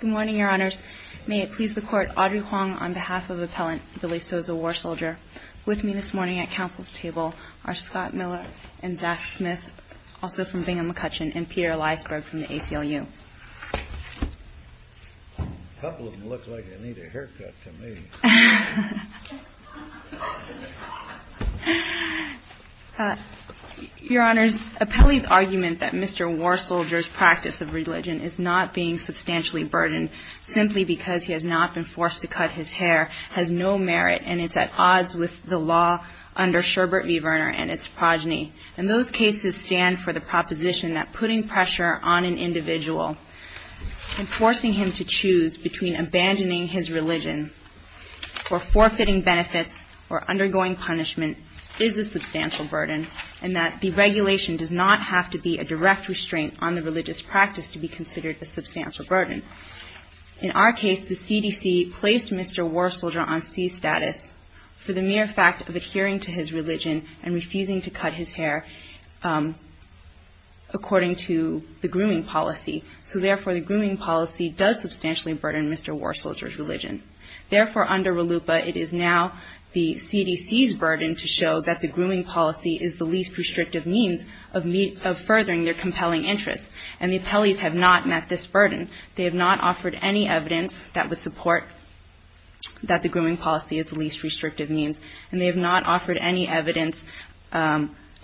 Good morning, Your Honors. May it please the Court, Audrey Huang on behalf of Appellant Billy Soza WARSOLDIER. With me this morning at Council's table are Scott Miller and Zach Smith, also from Bingham & McCutcheon, and Peter Eliasberg from the ACLU. A couple of them look like they need a haircut to me. Your Honors, Appellee's argument that Mr. WARSOLDIER's practice of religion is not being substantially burdened simply because he has not been forced to cut his hair has no merit, and it's at odds with the law under Sherbert v. Verner and its progeny. And those cases stand for the proposition that putting pressure on an individual and forcing him to choose between abandoning his religion and abandoning his practice of religion is a violation of the law. Or forfeiting benefits or undergoing punishment is a substantial burden, and that deregulation does not have to be a direct restraint on the religious practice to be considered a substantial burden. In our case, the CDC placed Mr. WARSOLDIER on C-status for the mere fact of adhering to his religion and refusing to cut his hair according to the grooming policy. So therefore, the grooming policy does substantially burden Mr. WARSOLDIER's religion. Therefore, under RLUIPA, it is now the CDC's burden to show that the grooming policy is the least restrictive means of furthering their compelling interests. And the appellees have not met this burden. They have not offered any evidence that would support that the grooming policy is the least restrictive means, and they have not offered any evidence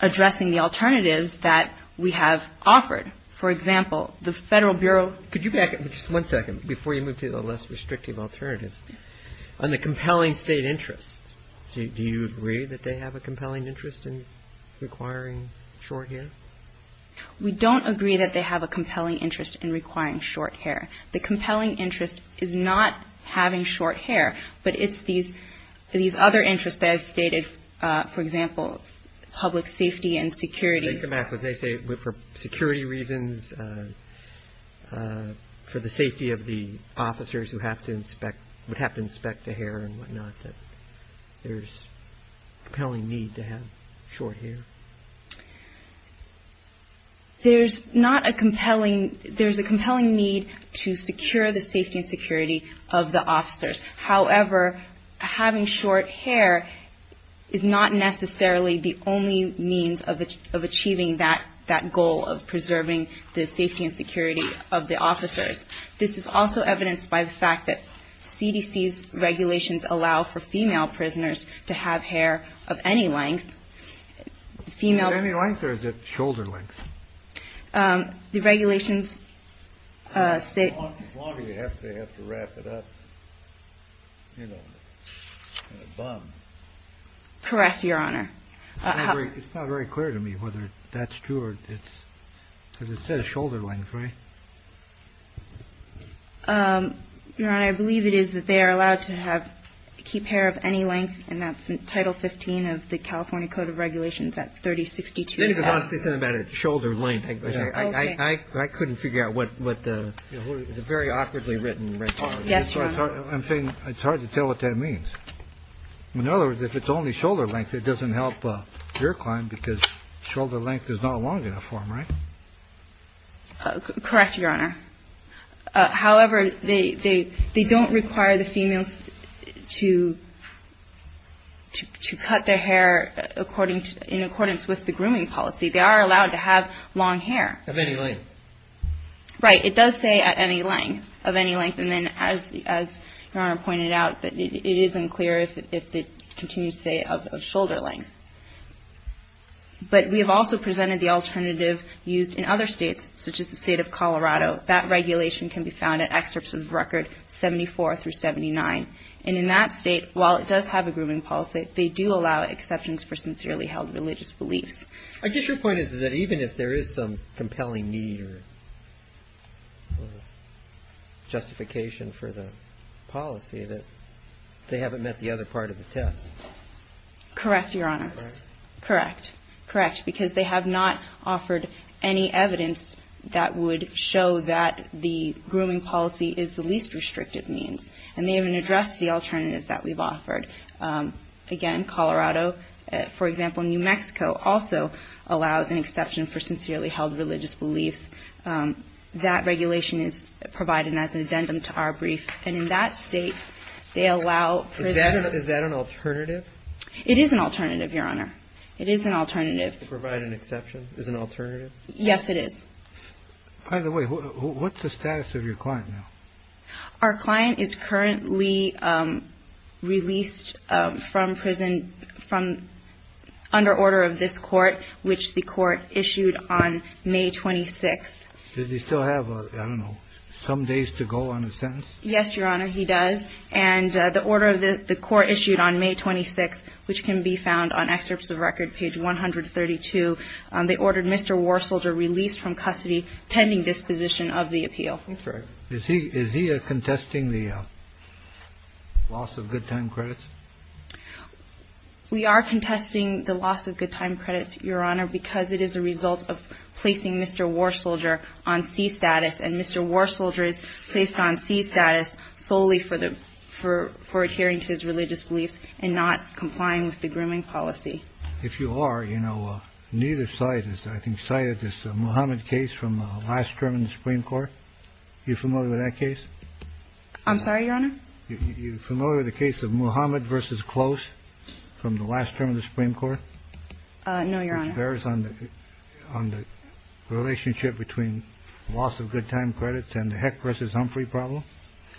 addressing the alternatives that we have offered. For example, the Federal Bureau — Before you move to the less restrictive alternatives, on the compelling state interest, do you agree that they have a compelling interest in requiring short hair? We don't agree that they have a compelling interest in requiring short hair. The compelling interest is not having short hair, but it's these other interests that I've stated. For example, public safety and security. They come back with — they say for security reasons, for the safety of the officers who have to inspect — would have to inspect the hair and whatnot, that there's compelling need to have short hair. There's not a compelling — there's a compelling need to secure the safety and security of the officers. However, having short hair is not necessarily the only means of achieving that goal of preserving the safety and security of the officers. This is also evidenced by the fact that CDC's regulations allow for female prisoners to have hair of any length. Female — Is it any length, or is it shoulder length? The regulations state — As long as they have to wrap it up, you know, in a bun. Correct, Your Honor. It's not very clear to me whether that's true or it's — because it says shoulder length, right? Your Honor, I believe it is that they are allowed to have — keep hair of any length, and that's in Title 15 of the California Code of Regulations at 3062. You didn't even want to say something about it, shoulder length. I couldn't figure out what the — it's a very awkwardly written regulation. Yes, Your Honor. I'm saying it's hard to tell what that means. In other words, if it's only shoulder length, it doesn't help your client because shoulder length is not long enough for him, right? Correct, Your Honor. However, they don't require the females to cut their hair according to — in accordance with the grooming policy. They are allowed to have long hair. Of any length. Right. It does say at any length, of any length. And then as Your Honor pointed out, it isn't clear if it continues to say of shoulder length. But we have also presented the alternative used in other states, such as the State of Colorado. That regulation can be found in excerpts of Record 74 through 79. And in that state, while it does have a grooming policy, they do allow exceptions for sincerely held religious beliefs. I guess your point is that even if there is some compelling need or justification for the policy, that they haven't met the other part of the test. Correct, Your Honor. Correct. Correct. Correct. Because they have not offered any evidence that would show that the grooming policy is the least restrictive means. And they haven't addressed the alternatives that we've offered. Again, Colorado. For example, New Mexico also allows an exception for sincerely held religious beliefs. That regulation is provided as an addendum to our brief. And in that state, they allow — Is that an alternative? It is an alternative, Your Honor. It is an alternative. To provide an exception is an alternative? Yes, it is. By the way, what's the status of your client now? Our client is currently released from prison from — under order of this court, which the court issued on May 26th. Does he still have, I don't know, some days to go on his sentence? Yes, Your Honor, he does. And the order of the court issued on May 26th, which can be found on Excerpts of Record, page 132. They ordered Mr. Warsolder released from custody pending disposition of the appeal. Is he contesting the loss of good time credits? We are contesting the loss of good time credits, Your Honor, because it is a result of placing Mr. Warsolder on C status. And Mr. Warsolder is placed on C status solely for the — for adhering to his religious beliefs and not complying with the grooming policy. If you are, you know, neither side has, I think, cited this Muhammad case from last term in the Supreme Court. Are you familiar with that case? I'm sorry, Your Honor? Are you familiar with the case of Muhammad v. Close from the last term in the Supreme Court? No, Your Honor. Which bears on the — on the relationship between loss of good time credits and the Heck v. Humphrey problem?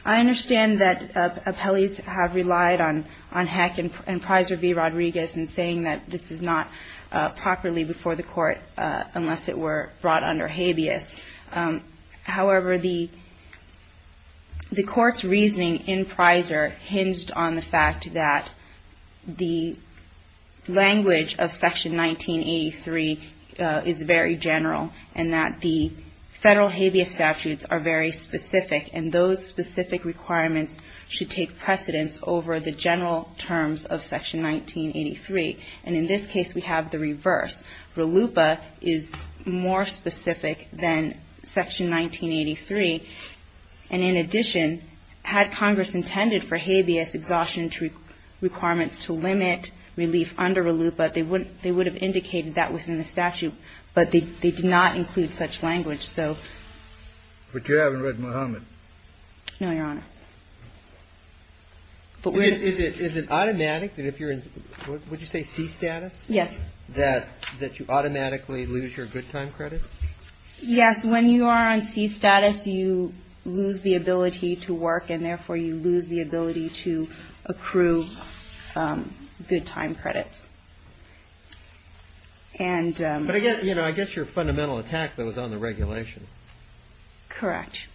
I understand that appellees have relied on Heck and Prisor v. Rodriguez in saying that this is not properly before the court unless it were brought under habeas. However, the court's reasoning in Prisor hinged on the fact that the language of Section 1983 is very general and that the federal habeas statutes are very specific and those specific requirements should take precedence over the general terms of Section 1983. And in this case, we have the reverse. RLUIPA is more specific than Section 1983. And in addition, had Congress intended for habeas exhaustion requirements to limit relief under RLUIPA, they would have indicated that within the statute, but they did not include such language. But you haven't read Muhammad? No, Your Honor. Is it automatic that if you're in, would you say C status? Yes. That you automatically lose your good time credit? Yes. When you are on C status, you lose the ability to work and, therefore, you lose the ability to accrue good time credits. But I guess your fundamental attack was on the regulation. Correct.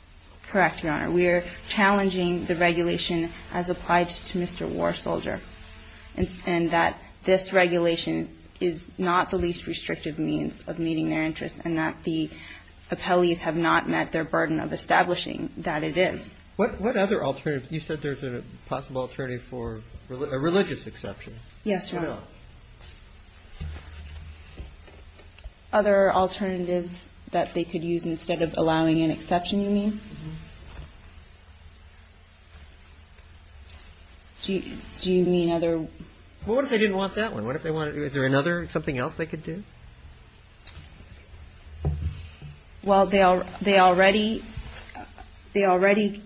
Correct, Your Honor. We are challenging the regulation as applied to Mr. War Soldier and that this regulation is not the least restrictive means of meeting their interests and that the appellees have not met their burden of establishing that it is. What other alternatives? You said there's a possible alternative for a religious exception. Yes, Your Honor. Other alternatives that they could use instead of allowing an exception, you mean? Do you mean other? Well, what if they didn't want that one? Well, they already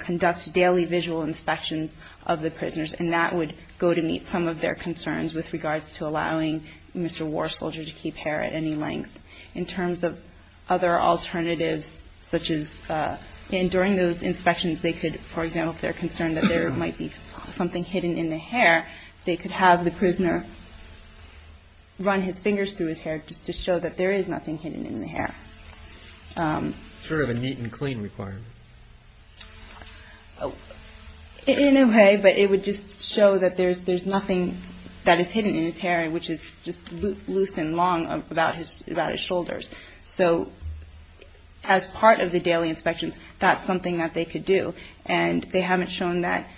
conduct daily visual inspections of the prisoners, and that would go to meet some of their concerns with regards to allowing Mr. War Soldier to keep hair at any length. In terms of other alternatives, such as during those inspections, they could, for example, if they're concerned that there might be something hidden in the hair, they could have the prisoner run his fingers through his hair just to show that there is nothing hidden in the hair. Sort of a neat and clean requirement. In a way, but it would just show that there's nothing that is hidden in his hair, which is just loose and long about his shoulders. So as part of the daily inspections, that's something that they could do. And they haven't shown that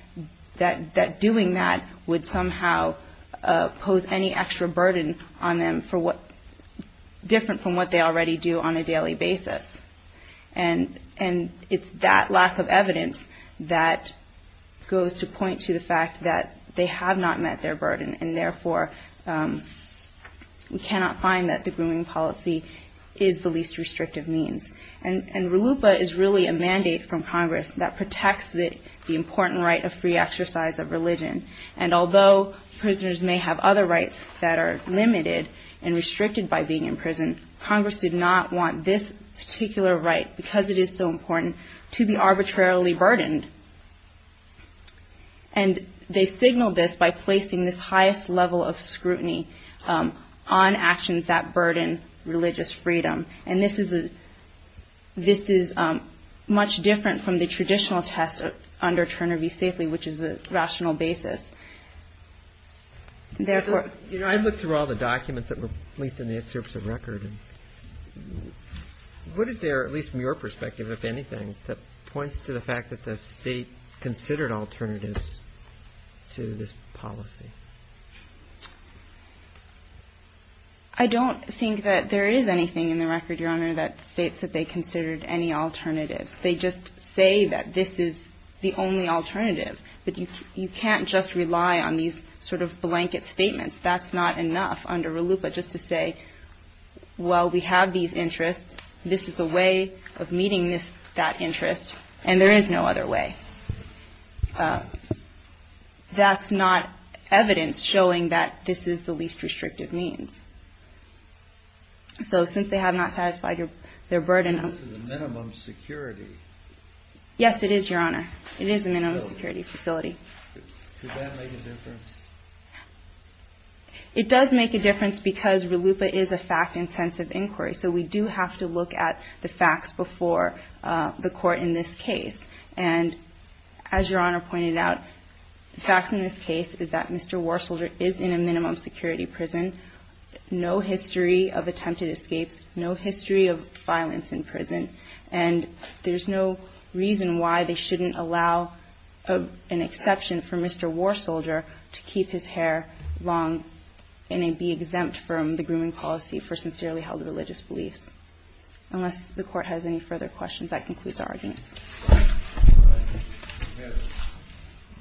doing that would somehow pose any extra burden on them different from what they already do on a daily basis. And it's that lack of evidence that goes to point to the fact that they have not met their burden, and therefore we cannot find that the grooming policy is the least restrictive means. And RLUIPA is really a mandate from Congress that protects the important right of free exercise of religion. And although prisoners may have other rights that are limited and restricted by being in prison, Congress did not want this particular right, because it is so important, to be arbitrarily burdened. And they signaled this by placing this highest level of scrutiny on actions that burden religious freedom. And this is much different from the traditional test under Turner v. Safely, which is a rational basis. Therefore ‑‑ You know, I looked through all the documents that were placed in the excerpts of record. What is there, at least from your perspective, if anything, that points to the fact that the State considered alternatives to this policy? I don't think that there is anything in the record, Your Honor, that states that they considered any alternatives. They just say that this is the only alternative. But you can't just rely on these sort of blanket statements. That's not enough under RLUIPA just to say, well, we have these interests. This is a way of meeting this ‑‑ that interest. And there is no other way. That's not evidence showing that this is the least restrictive means. So since they have not satisfied their burden of ‑‑ This is a minimum security. Yes, it is, Your Honor. It is a minimum security facility. Does that make a difference? It does make a difference, because RLUIPA is a fact‑intensive inquiry. So we do have to look at the facts before the Court in this case. And as Your Honor pointed out, the facts in this case is that Mr. Warsolder is in a minimum security prison. No history of attempted escapes. No history of violence in prison. And there's no reason why they shouldn't allow an exception for Mr. Warsolder to keep his hair long and be exempt from the grooming policy for sincerely held religious beliefs. Unless the Court has any further questions, that concludes our arguments. All right. We have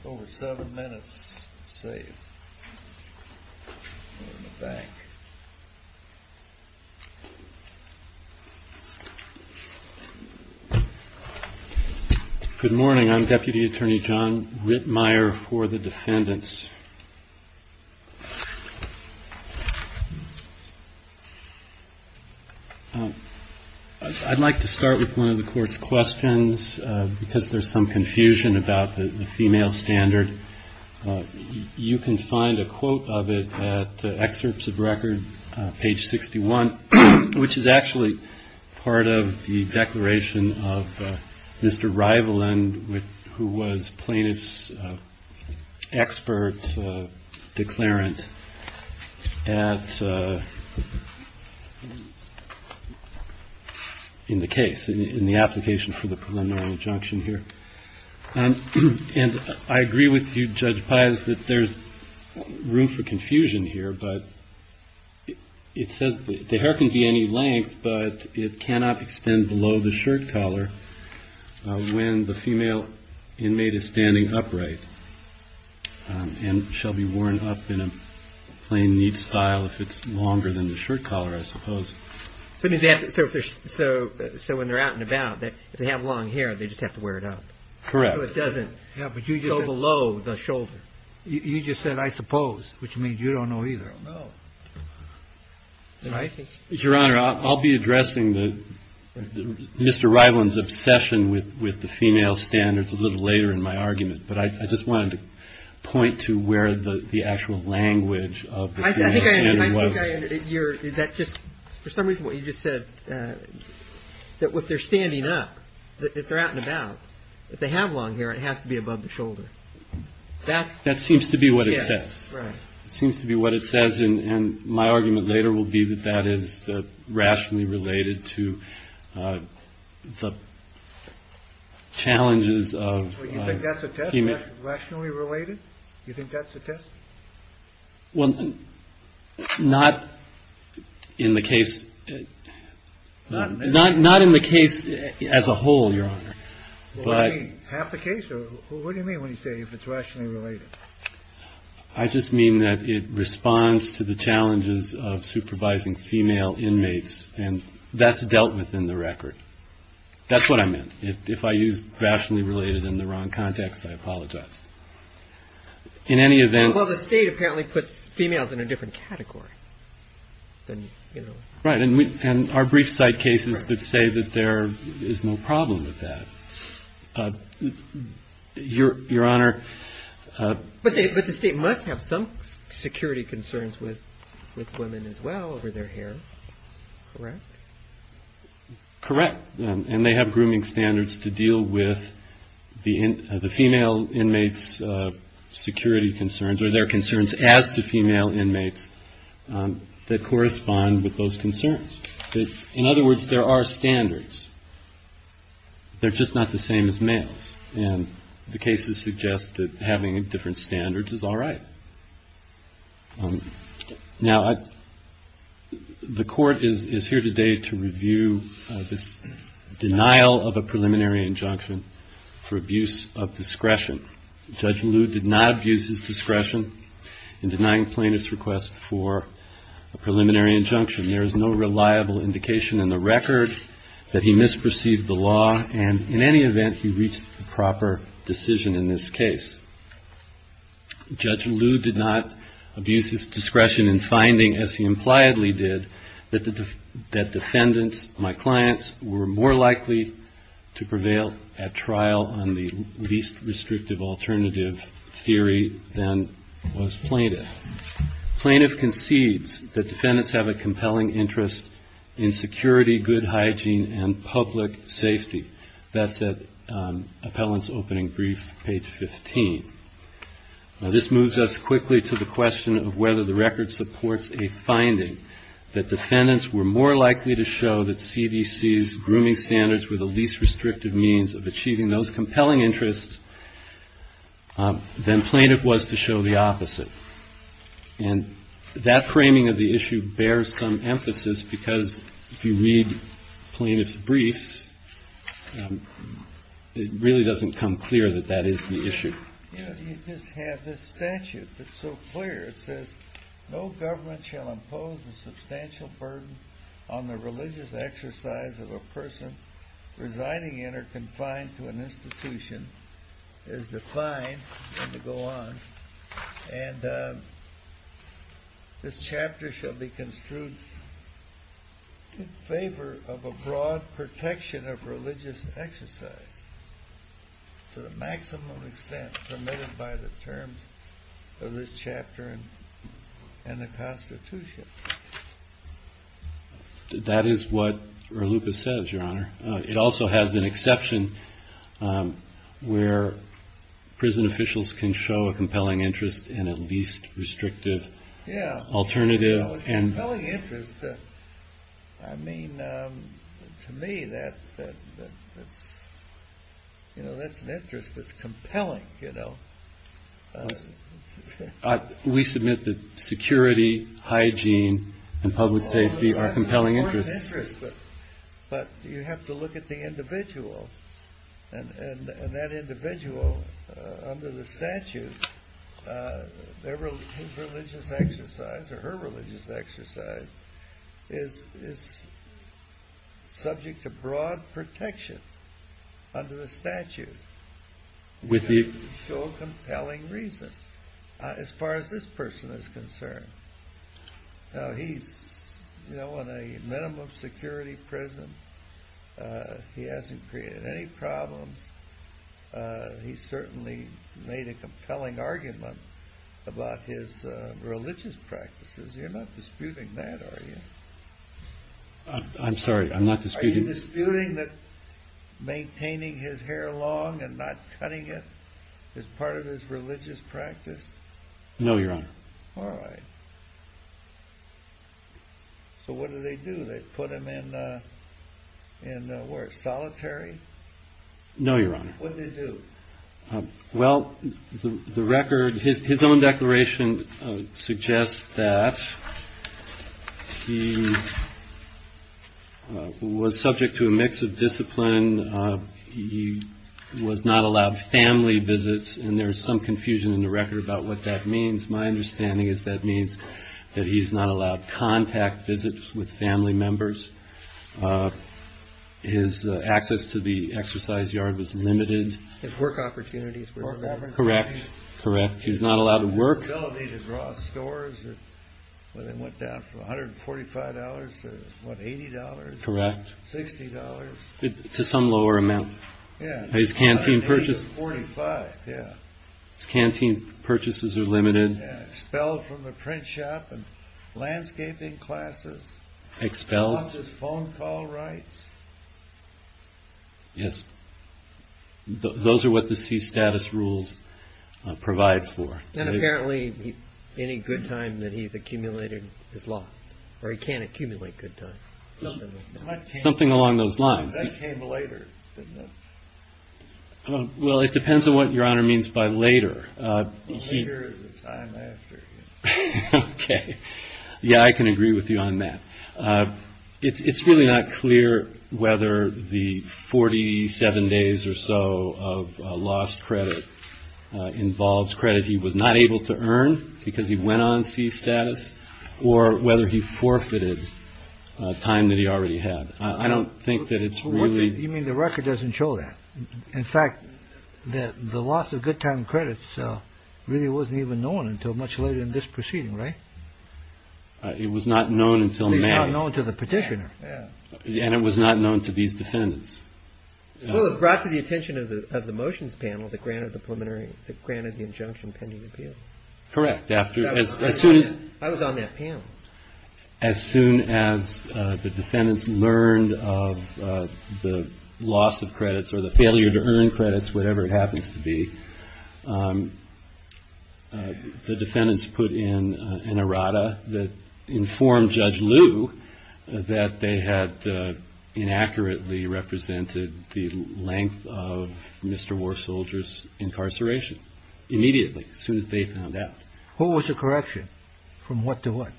over seven minutes to save. We're in the back. Good morning. I'm Deputy Attorney John Rittmeyer for the defendants. I'd like to start with one of the Court's questions, because there's some confusion about the female standard. You can find a quote of it at excerpts of record, page 61, which is actually part of the declaration of Mr. Rivalin, who was plaintiff's expert declarant in the case, in the application for the preliminary injunction here. And I agree with you, Judge Pius, that there's room for confusion here, but it says the hair can be any length, but it cannot extend below the shirt collar when the female inmate is standing upright and shall be worn up in a plain neat style if it's longer than the shirt collar, I suppose. So when they're out and about, if they have long hair, they just have to wear it up. Correct. So it doesn't go below the shoulder. You just said, I suppose, which means you don't know either. I don't know. I'll be addressing Mr. Rivalin's obsession with the female standards a little later in my argument, but I just wanted to point to where the actual language of the female standard was. I think I understand. For some reason, what you just said, that if they're standing up, if they're out and about, if they have long hair, it has to be above the shoulder. That seems to be what it says. It seems to be what it says. And my argument later will be that that is rationally related to the challenges of. You think that's a test? Rationally related? You think that's a test? Well, not in the case. Not in the case as a whole, Your Honor. Half the case? What do you mean when you say if it's rationally related? I just mean that it responds to the challenges of supervising female inmates, and that's dealt with in the record. That's what I meant. If I used rationally related in the wrong context, I apologize. In any event. Well, the state apparently puts females in a different category. Right. And our brief site cases that say that there is no problem with that. Your Honor. But the state must have some security concerns with women as well over their hair, correct? Correct. And they have grooming standards to deal with the female inmates' security concerns or their concerns as to female inmates that correspond with those concerns. In other words, there are standards. They're just not the same as males, and the cases suggest that having different standards is all right. Now, the Court is here today to review this denial of a preliminary injunction for abuse of discretion. Judge Liu did not abuse his discretion in denying plaintiff's request for a preliminary injunction. There is no reliable indication in the record that he misperceived the law, and in any event he reached the proper decision in this case. Judge Liu did not abuse his discretion in finding, as he impliedly did, that defendants, my clients, were more likely to prevail at trial on the least restrictive alternative theory than was plaintiff. Plaintiff concedes that defendants have a compelling interest in security, good hygiene, and public safety. That's at appellant's opening brief, page 15. Now, this moves us quickly to the question of whether the record supports a finding that defendants were more likely to show that CDC's grooming standards were the least restrictive means of achieving those compelling interests than plaintiff was to show the opposite. And that framing of the issue bears some emphasis because if you read plaintiff's briefs, it really doesn't come clear that that is the issue. You just have this statute that's so clear. It says, no government shall impose a substantial burden on the religious exercise of a person residing in or confined to an institution as defined, and to go on. And this chapter shall be construed in favor of a broad protection of religious exercise to the maximum extent permitted by the terms of this chapter in the Constitution. That is what RLUCA says, Your Honor. It also has an exception where prison officials can show a compelling interest in a least restrictive alternative. A compelling interest? I mean, to me, that's an interest that's compelling. We submit that security, hygiene, and public safety are compelling interests. But you have to look at the individual. And that individual, under the statute, their religious exercise, or her religious exercise, is subject to broad protection under the statute. You have to show compelling reason as far as this person is concerned. Now, he's in a minimum security prison. He hasn't created any problems. He's certainly made a compelling argument about his religious practices. You're not disputing that, are you? I'm sorry. I'm not disputing. Are you disputing that maintaining his hair long and not cutting it is part of his religious practice? No, Your Honor. All right. So what do they do? They put him in, where, solitary? No, Your Honor. What did they do? Well, the record, his own declaration suggests that he was subject to a mix of discipline. He was not allowed family visits. And there's some confusion in the record about what that means. My understanding is that means that he's not allowed contact visits with family members. His access to the exercise yard was limited. His work opportunities were limited. Correct. Correct. He was not allowed to work. His ability to draw scores, when they went down from $145 to, what, $80? Correct. $60? To some lower amount. Yeah. His canteen purchases. $80 to $45, yeah. His canteen purchases are limited. Expelled from the print shop and landscaping classes. Expelled. Lost his phone call rights. Yes. Those are what the sea status rules provide for. And apparently any good time that he's accumulated is lost. Or he can't accumulate good time. Something along those lines. That came later, didn't it? Well, it depends on what Your Honor means by later. Later is the time after. Okay. Yeah, I can agree with you on that. It's really not clear whether the 47 days or so of lost credit involves credit he was not able to earn because he went on sea status, or whether he forfeited time that he already had. I don't think that it's really. You mean the record doesn't show that. In fact, the loss of good time credits really wasn't even known until much later in this proceeding, right? It was not known until May. It was not known to the petitioner. And it was not known to these defendants. It was brought to the attention of the motions panel that granted the injunction pending appeal. Correct. I was on that panel. As soon as the defendants learned of the loss of credits or the failure to earn credits, whatever it happens to be, the defendants put in an errata that informed Judge Liu that they had inaccurately represented the length of Mr. War Soldier's incarceration immediately, as soon as they found out. Who was the correction? From what to what?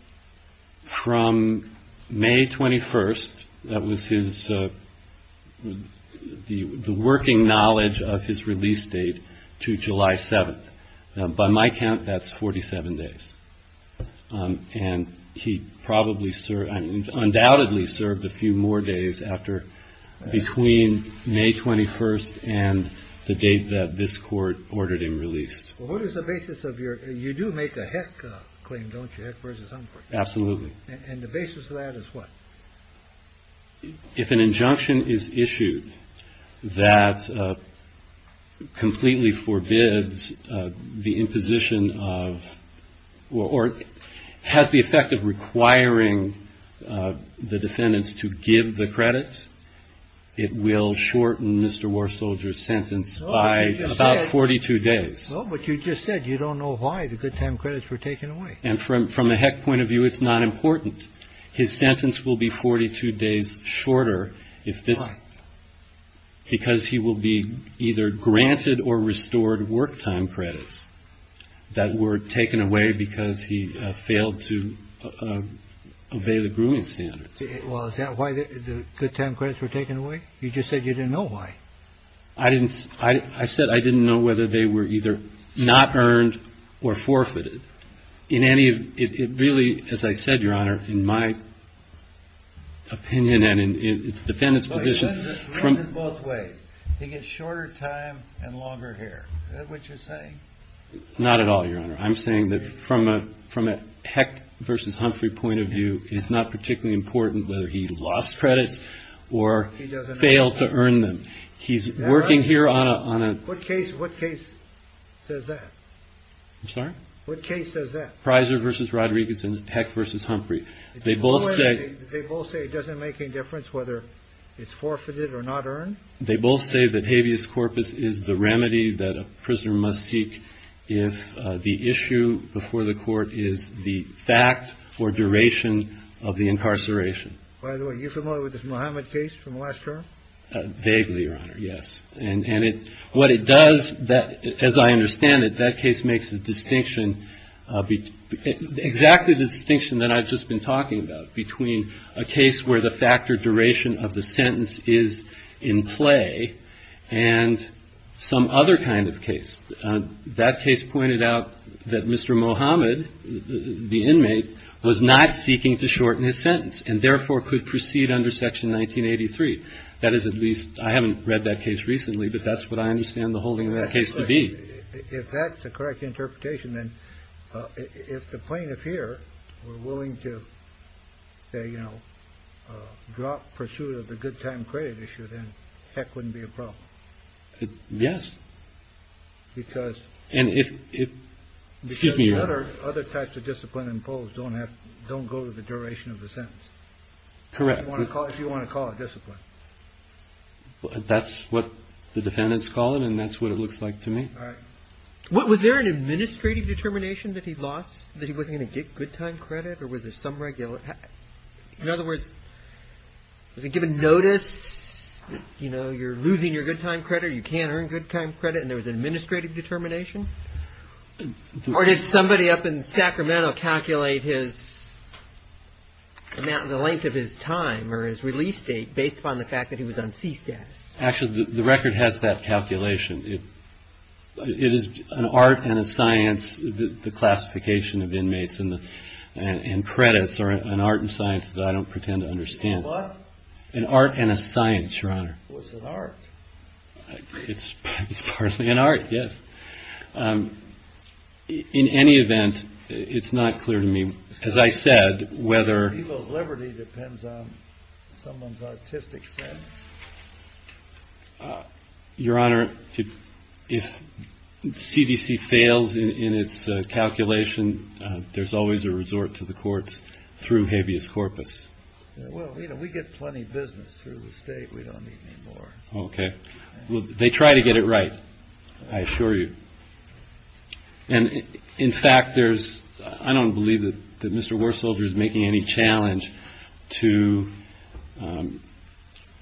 From May 21st. That was his, the working knowledge of his release date to July 7th. By my count, that's 47 days. And he probably served, undoubtedly served a few more days after, between May 21st and the date that this court ordered him released. Well, what is the basis of your, you do make a heck claim, don't you? Heck versus Humphrey. Absolutely. And the basis of that is what? If an injunction is issued that completely forbids the imposition of, or has the effect of requiring the defendants to give the credits, it will shorten Mr. War Soldier's sentence by about 42 days. Well, but you just said you don't know why the good time credits were taken away. And from a heck point of view, it's not important. His sentence will be 42 days shorter if this, because he will be either granted or restored work time credits that were taken away because he failed to obey the grooming standards. Well, is that why the good time credits were taken away? You just said you didn't know why. I didn't, I said I didn't know whether they were either not earned or forfeited. In any of, it really, as I said, Your Honor, in my opinion and in the defendant's position. It runs in both ways. He gets shorter time and longer hair. Is that what you're saying? Not at all, Your Honor. I'm saying that from a heck versus Humphrey point of view, it's not particularly important whether he lost credits or failed to earn them. He's working here on a case. What case is that? I'm sorry. What case is that? Prysor versus Rodriguez and heck versus Humphrey. They both say they both say it doesn't make any difference whether it's forfeited or not earned. They both say that habeas corpus is the remedy that a prisoner must seek. If the issue before the court is the fact or duration of the incarceration. By the way, are you familiar with this Mohamed case from last term? Vaguely, Your Honor. Yes. And what it does, as I understand it, that case makes a distinction, exactly the distinction that I've just been talking about, between a case where the fact or duration of the sentence is in play and some other kind of case. That case pointed out that Mr. Mohamed, the inmate, was not seeking to shorten his sentence and therefore could proceed under Section 1983. That is, at least I haven't read that case recently, but that's what I understand the holding of that case to be. If that's the correct interpretation, then if the plaintiff here were willing to, you know, drop pursuit of the good time credit issue, then heck wouldn't be a problem. Yes. Because. And if. Excuse me, Your Honor. Other types of discipline imposed don't have don't go to the duration of the sentence. Correct. If you want to call it discipline. That's what the defendants call it. And that's what it looks like to me. All right. Was there an administrative determination that he lost, that he wasn't going to get good time credit? Or was there some regular. In other words, given notice, you know, you're losing your good time credit. You can't earn good time credit. And there was an administrative determination. Or did somebody up in Sacramento calculate his amount in the length of his time or his release date based upon the fact that he was on C status? Actually, the record has that calculation. It is an art and a science. The classification of inmates and credits are an art and science that I don't pretend to understand. What? An art and a science, Your Honor. Well, it's an art. It's partly an art, yes. In any event, it's not clear to me, as I said, whether. People's liberty depends on someone's artistic sense. Your Honor, if CDC fails in its calculation, there's always a resort to the courts through habeas corpus. Well, you know, we get plenty of business through the state. We don't need any more. OK. Well, they try to get it right. I assure you. And in fact, there's I don't believe that Mr. War Soldier is making any challenge to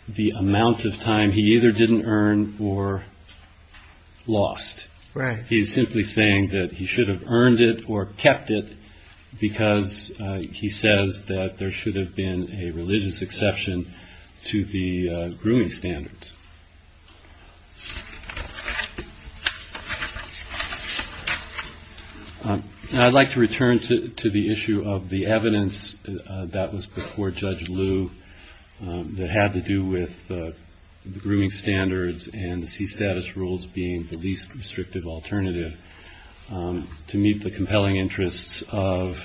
the amount of time he either didn't earn or lost. Right. He's simply saying that he should have earned it or kept it because he says that there should have been a religious exception to the grooming standards. And I'd like to return to the issue of the evidence. That was before Judge Lou. That had to do with the grooming standards and the sea status rules being the least restrictive alternative to meet the compelling interests of.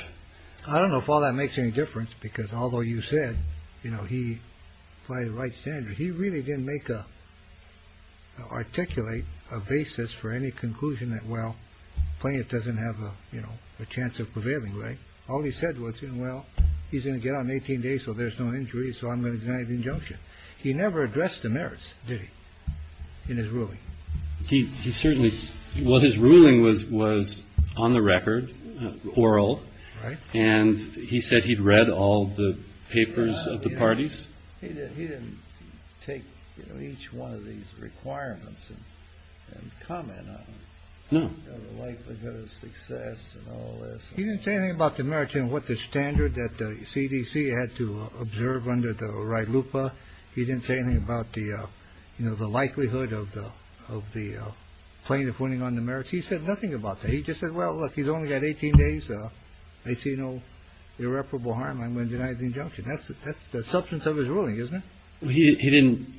I don't know if all that makes any difference, because although you said, you know, he played the right standard, he really didn't make a articulate a basis for any conclusion that, well, playing it doesn't have a chance of prevailing. Right. All he said was, well, he's going to get on 18 days. So there's no injury. So I'm going to deny the injunction. He never addressed the merits. Did he in his ruling? He certainly. Well, his ruling was was on the record oral. Right. And he said he'd read all the papers of the parties. He didn't take each one of these requirements and comment. No. Success. He didn't say anything about the merits and what the standard that CDC had to observe under the right loop. He didn't say anything about the, you know, the likelihood of the of the plaintiff winning on the merits. He said nothing about that. He just said, well, look, he's only got 18 days. So I see no irreparable harm. I'm going to deny the injunction. That's the substance of his ruling, isn't it? He didn't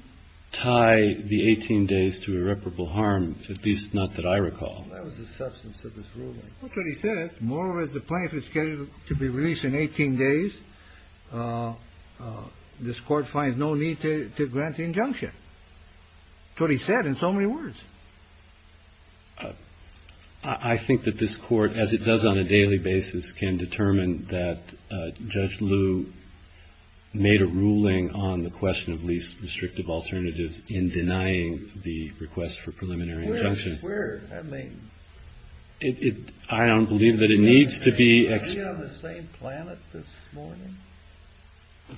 tie the 18 days to irreparable harm, at least not that I recall. That was the substance of his ruling. That's what he said. More with the plaintiff is scheduled to be released in 18 days. This court finds no need to grant the injunction. So he said in so many words. I think that this court, as it does on a daily basis, can determine that Judge Lou made a ruling on the question of least restrictive alternatives in denying the request for preliminary injunction. I mean, I don't believe that it needs to be the same planet this morning.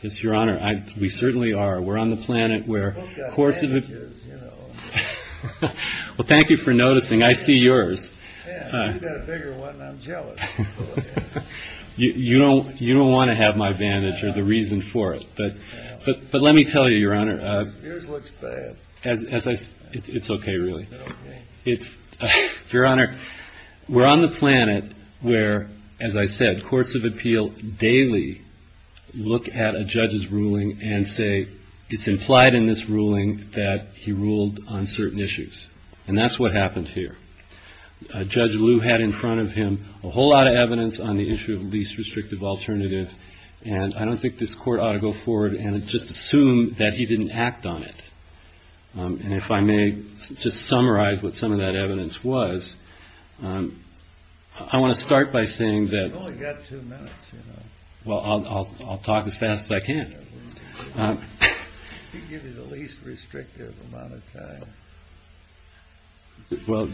Yes, Your Honor, we certainly are. We're on the planet where courts. Well, thank you for noticing. I see yours. You know, you don't want to have my bandage or the reason for it. But but let me tell you, Your Honor, it's OK, really. It's your honor. We're on the planet where, as I said, courts of appeal daily look at a judge's ruling and say it's implied in this ruling that he ruled on certain issues. And that's what happened here. Judge Lou had in front of him a whole lot of evidence on the issue of least restrictive alternative. And I don't think this court ought to go forward and just assume that he didn't act on it. And if I may just summarize what some of that evidence was. I want to start by saying that I've only got two minutes. Well, I'll talk as fast as I can. Give me the least restrictive amount of time. Well.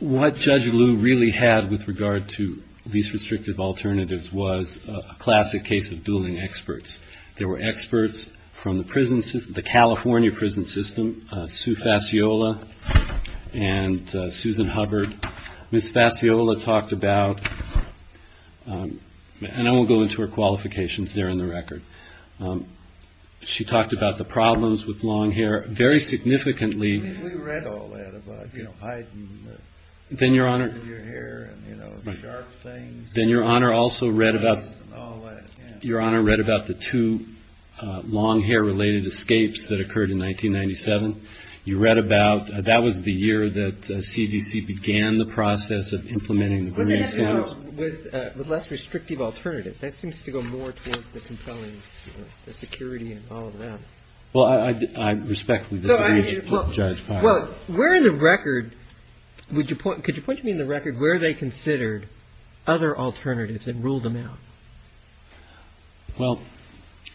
What Judge Lou really had with regard to these restrictive alternatives was a classic case of dueling experts. There were experts from the prison system, the California prison system, Sue Fasciola and Susan Hubbard. Miss Fasciola talked about and I won't go into her qualifications there in the record. She talked about the problems with long hair very significantly. We read all that about, you know, height. Then Your Honor. Then Your Honor also read about. Your Honor read about the two long hair related escapes that occurred in 1997. You read about that was the year that CDC began the process of implementing with less restrictive alternatives. That seems to go more towards the compelling security and all of that. Well, I respect the judge. Well, we're in the record. Would you put could you put me in the record where they considered other alternatives and ruled them out? Well,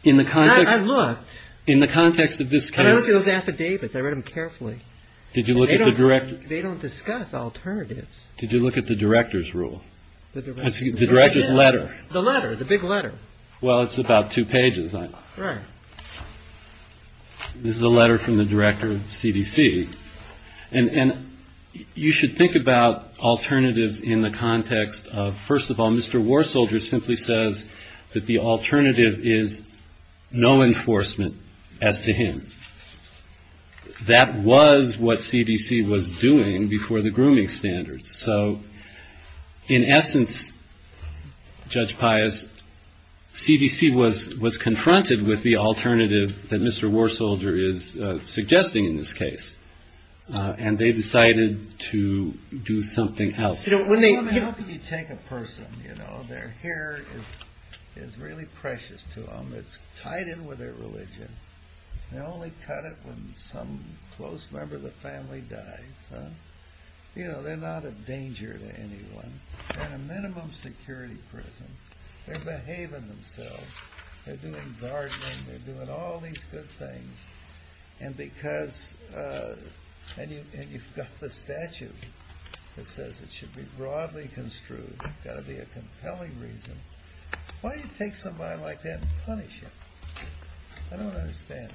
in the car, I'm not in the context of this kind of affidavits. I read them carefully. Did you look at the director? They don't discuss alternatives. Did you look at the director's rule? The director's letter, the letter, the big letter. Well, it's about two pages. This is a letter from the director of CDC. And you should think about alternatives in the context of first of all, Mr. War Soldier simply says that the alternative is no enforcement as to him. That was what CDC was doing before the grooming standards. So in essence, Judge Pius, CDC was was confronted with the alternative that Mr. War Soldier is suggesting in this case. And they decided to do something else. When they take a person, you know, their hair is really precious to them. It's tied in with their religion. They only cut it when some close member of the family dies. You know, they're not a danger to anyone. They're in a minimum security prison. They're behaving themselves. They're doing gardening. They're doing all these good things. And because you've got the statute that says it should be broadly construed, got to be a compelling reason. Why do you take somebody like that and punish them? I don't understand.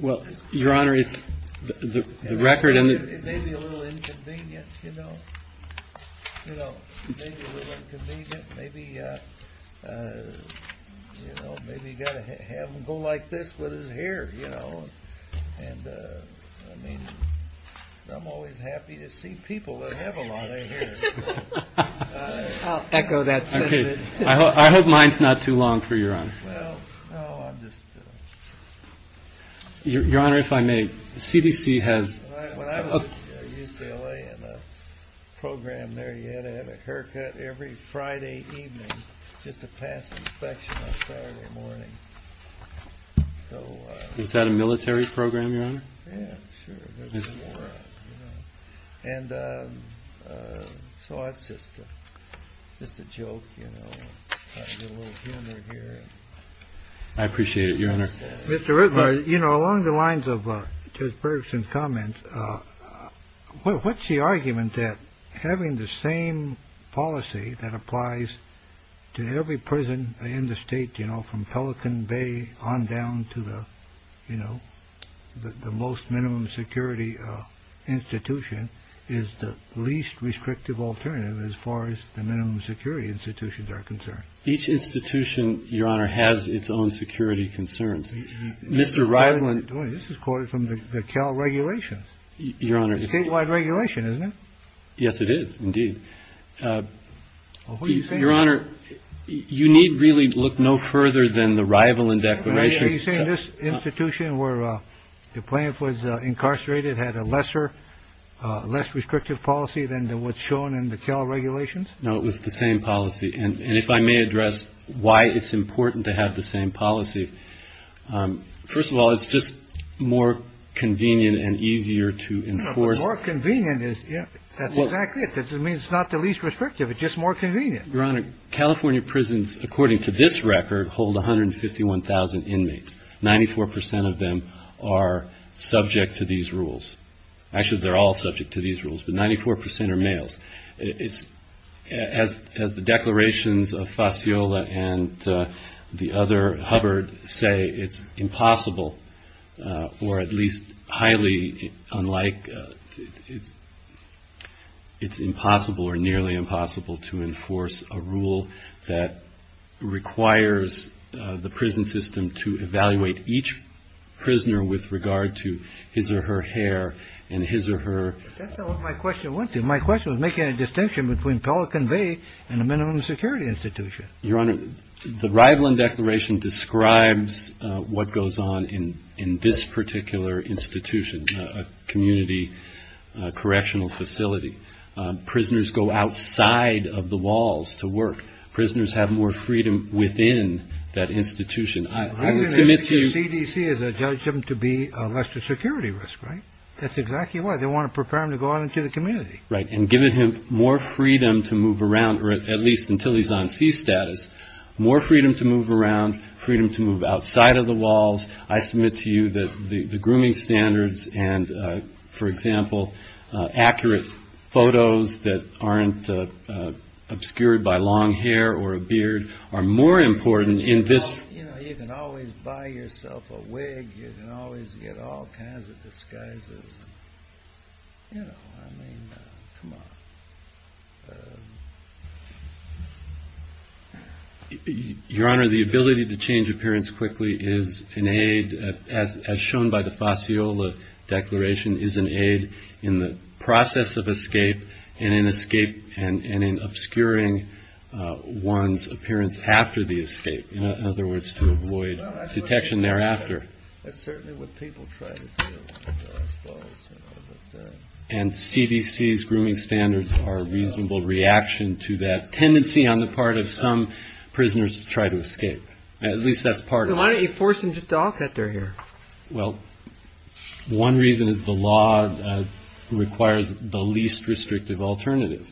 Well, Your Honor, it's the record. And it may be a little inconvenient, you know, you know, maybe a little inconvenient. Maybe, you know, maybe you got to have him go like this with his hair, you know. And I mean, I'm always happy to see people that have a lot of hair. I'll echo that. I hope mine's not too long for your honor. Your Honor, if I may, the CDC has a program there. You had to have a haircut every Friday evening just to pass inspection on Saturday morning. So is that a military program? Yeah, sure. And so it's just just a joke. I appreciate it, Your Honor. Mr. Ritmer, you know, along the lines of Judge Bergeson's comments, what's the argument that having the same policy that applies to every prison in the state, you know, from Pelican Bay on down to the, you know, the most minimum security institution is the least restrictive alternative as far as the minimum security institutions are concerned? Each institution, Your Honor, has its own security concerns. Mr. Ryland, this is quoted from the Cal regulations. Your Honor, statewide regulation, isn't it? Yes, it is indeed. Your Honor, you need really look no further than the rival in declaration. Are you saying this institution where the plaintiff was incarcerated had a lesser, less restrictive policy than what's shown in the Cal regulations? No, it was the same policy. And if I may address why it's important to have the same policy. First of all, it's just more convenient and easier to enforce. More convenient is, yeah, that's exactly it. I mean, it's not the least restrictive, it's just more convenient. Your Honor, California prisons, according to this record, hold 151,000 inmates. Ninety-four percent of them are subject to these rules. Actually, they're all subject to these rules, but 94 percent are males. It's, as the declarations of Fasciola and the other Hubbard say, it's impossible, or at least highly unlike, it's impossible or nearly impossible to enforce a rule that requires the prison system to evaluate each prisoner with regard to his or her hair and his or her... That's not what my question went to. My question was making a distinction between Pelican Bay and the minimum security institution. Your Honor, the Rivlin Declaration describes what goes on in this particular institution, a community correctional facility. Prisoners go outside of the walls to work. Prisoners have more freedom within that institution. I would submit to you... CDC has judged him to be a lesser security risk, right? That's exactly why. They want to prepare him to go out into the community. Right, and giving him more freedom to move around, or at least until he's on sea status, more freedom to move around, freedom to move outside of the walls. I submit to you that the grooming standards and, for example, accurate photos that aren't obscured by long hair or a beard are more important in this... You know, you can always buy yourself a wig. You can always get all kinds of disguises. You know, I mean, come on. Your Honor, the ability to change appearance quickly is an aid, as shown by the Fossiola Declaration, is an aid in the process of escape and in obscuring one's appearance after the escape. In other words, to avoid detection thereafter. That's certainly what people try to do. And CDC's grooming standards are a reasonable reaction to that tendency on the part of some prisoners to try to escape. At least that's part of it. So why don't you force him just to all cut their hair? Well, one reason is the law requires the least restrictive alternative.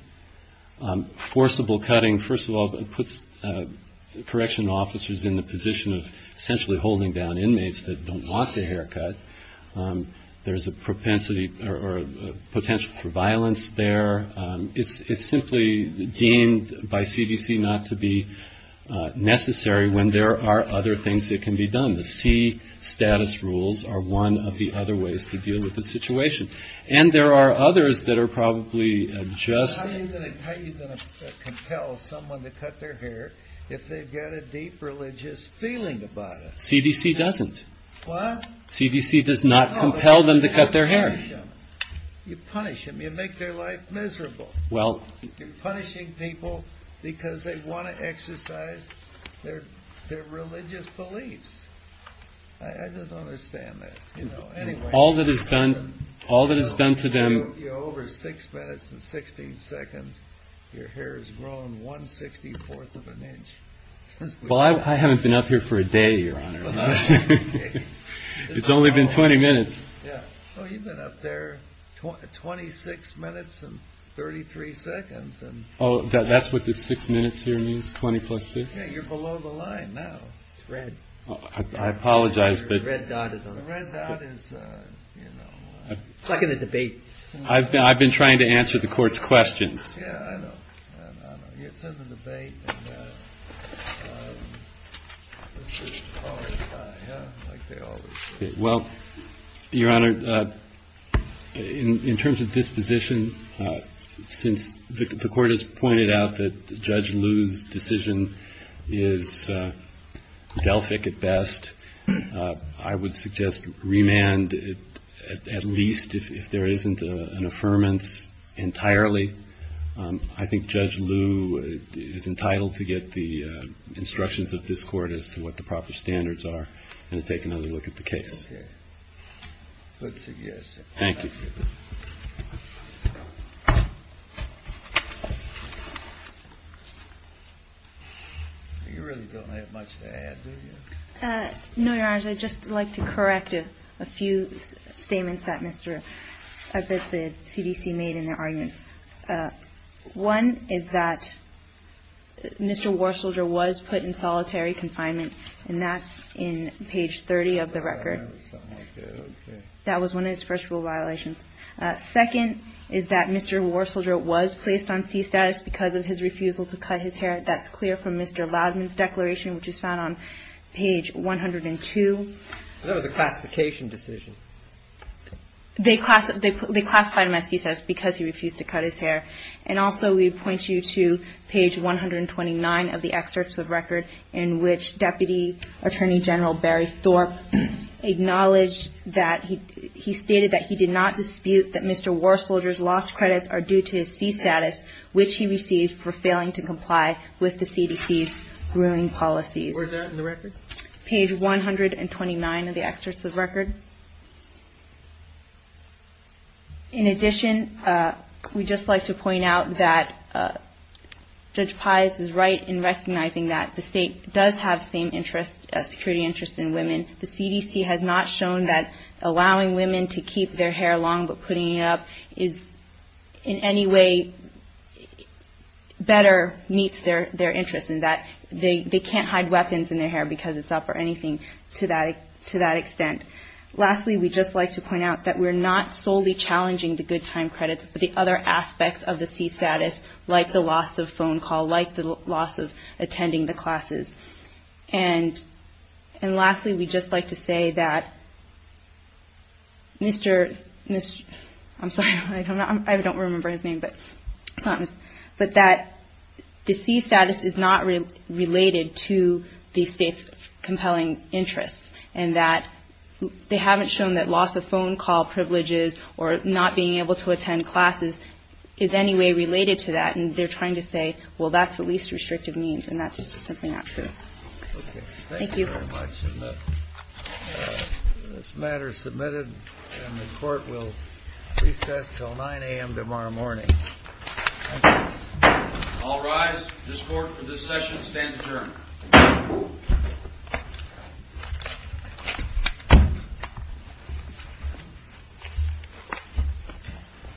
Forcible cutting, first of all, puts correction officers in the position of essentially holding down inmates that don't want their hair cut. There's a propensity or potential for violence there. It's simply deemed by CDC not to be necessary when there are other things that can be done. The C status rules are one of the other ways to deal with the situation. And there are others that are probably just... CDC doesn't. What? CDC does not compel them to cut their hair. You punish them. You make their life miserable. Well... You're punishing people because they want to exercise their religious beliefs. I just don't understand that. All that is done to them... You're over six minutes and 16 seconds. Your hair has grown one sixty-fourth of an inch. Well, I haven't been up here for a day, Your Honor. It's only been 20 minutes. Oh, you've been up there 26 minutes and 33 seconds. Oh, that's what the six minutes here means? 20 plus six? Yeah, you're below the line now. It's red. I apologize, but... The red dot is, you know... It's like in the debates. I've been trying to answer the court's questions. Yeah, I know. I know. It's in the debate. Well, Your Honor, in terms of disposition, since the Court has pointed out that Judge Liu's decision is Delphic at best, I would suggest remand at least if there isn't an affirmance entirely. I think Judge Liu is entitled to get the instructions of this Court as to what the proper standards are and to take another look at the case. Okay. Good suggestion. Thank you. No, Your Honors, I'd just like to correct a few statements that the CDC made in their argument. One is that Mr. Warsolder was put in solitary confinement, and that's in page 30 of the record. That was one of his first rule violations. Second is that Mr. Warsolder was placed on c-status because of his refusal to cut his hair. That's clear from Mr. Loudman's declaration, which is found on page 102. That was a classification decision. They classified him as c-status because he refused to cut his hair. And also we point you to page 129 of the excerpts of record in which Deputy Attorney General Barry Thorpe acknowledged that he stated that he did not dispute that Mr. Warsolder's lost credits are due to his c-status, which he received for failing to comply with the CDC's ruling policies. Where is that in the record? Page 129 of the excerpts of record. In addition, we'd just like to point out that Judge Pius is right in recognizing that the State does have the same security interest in women. The CDC has not shown that allowing women to keep their hair long but putting it up is in any way better meets their interest, and that they can't hide weapons in their hair because it's up or anything to that extent. Lastly, we'd just like to point out that we're not solely challenging the good time credits, but the other aspects of the c-status, like the loss of phone call, like the loss of attending the classes. And lastly, we'd just like to say that Mr. — I'm sorry, I don't remember his name, but that the c-status is not related to the State's compelling interests, and that they haven't shown that loss of phone call privileges or not being able to attend classes is any way related to that, and they're trying to say, well, that's the least restrictive means, and that's just simply not true. Thank you. Thank you very much. And this matter is submitted, and the Court will recess until 9 a.m. tomorrow morning. Thank you. All rise. This Court, for this session, stands adjourned.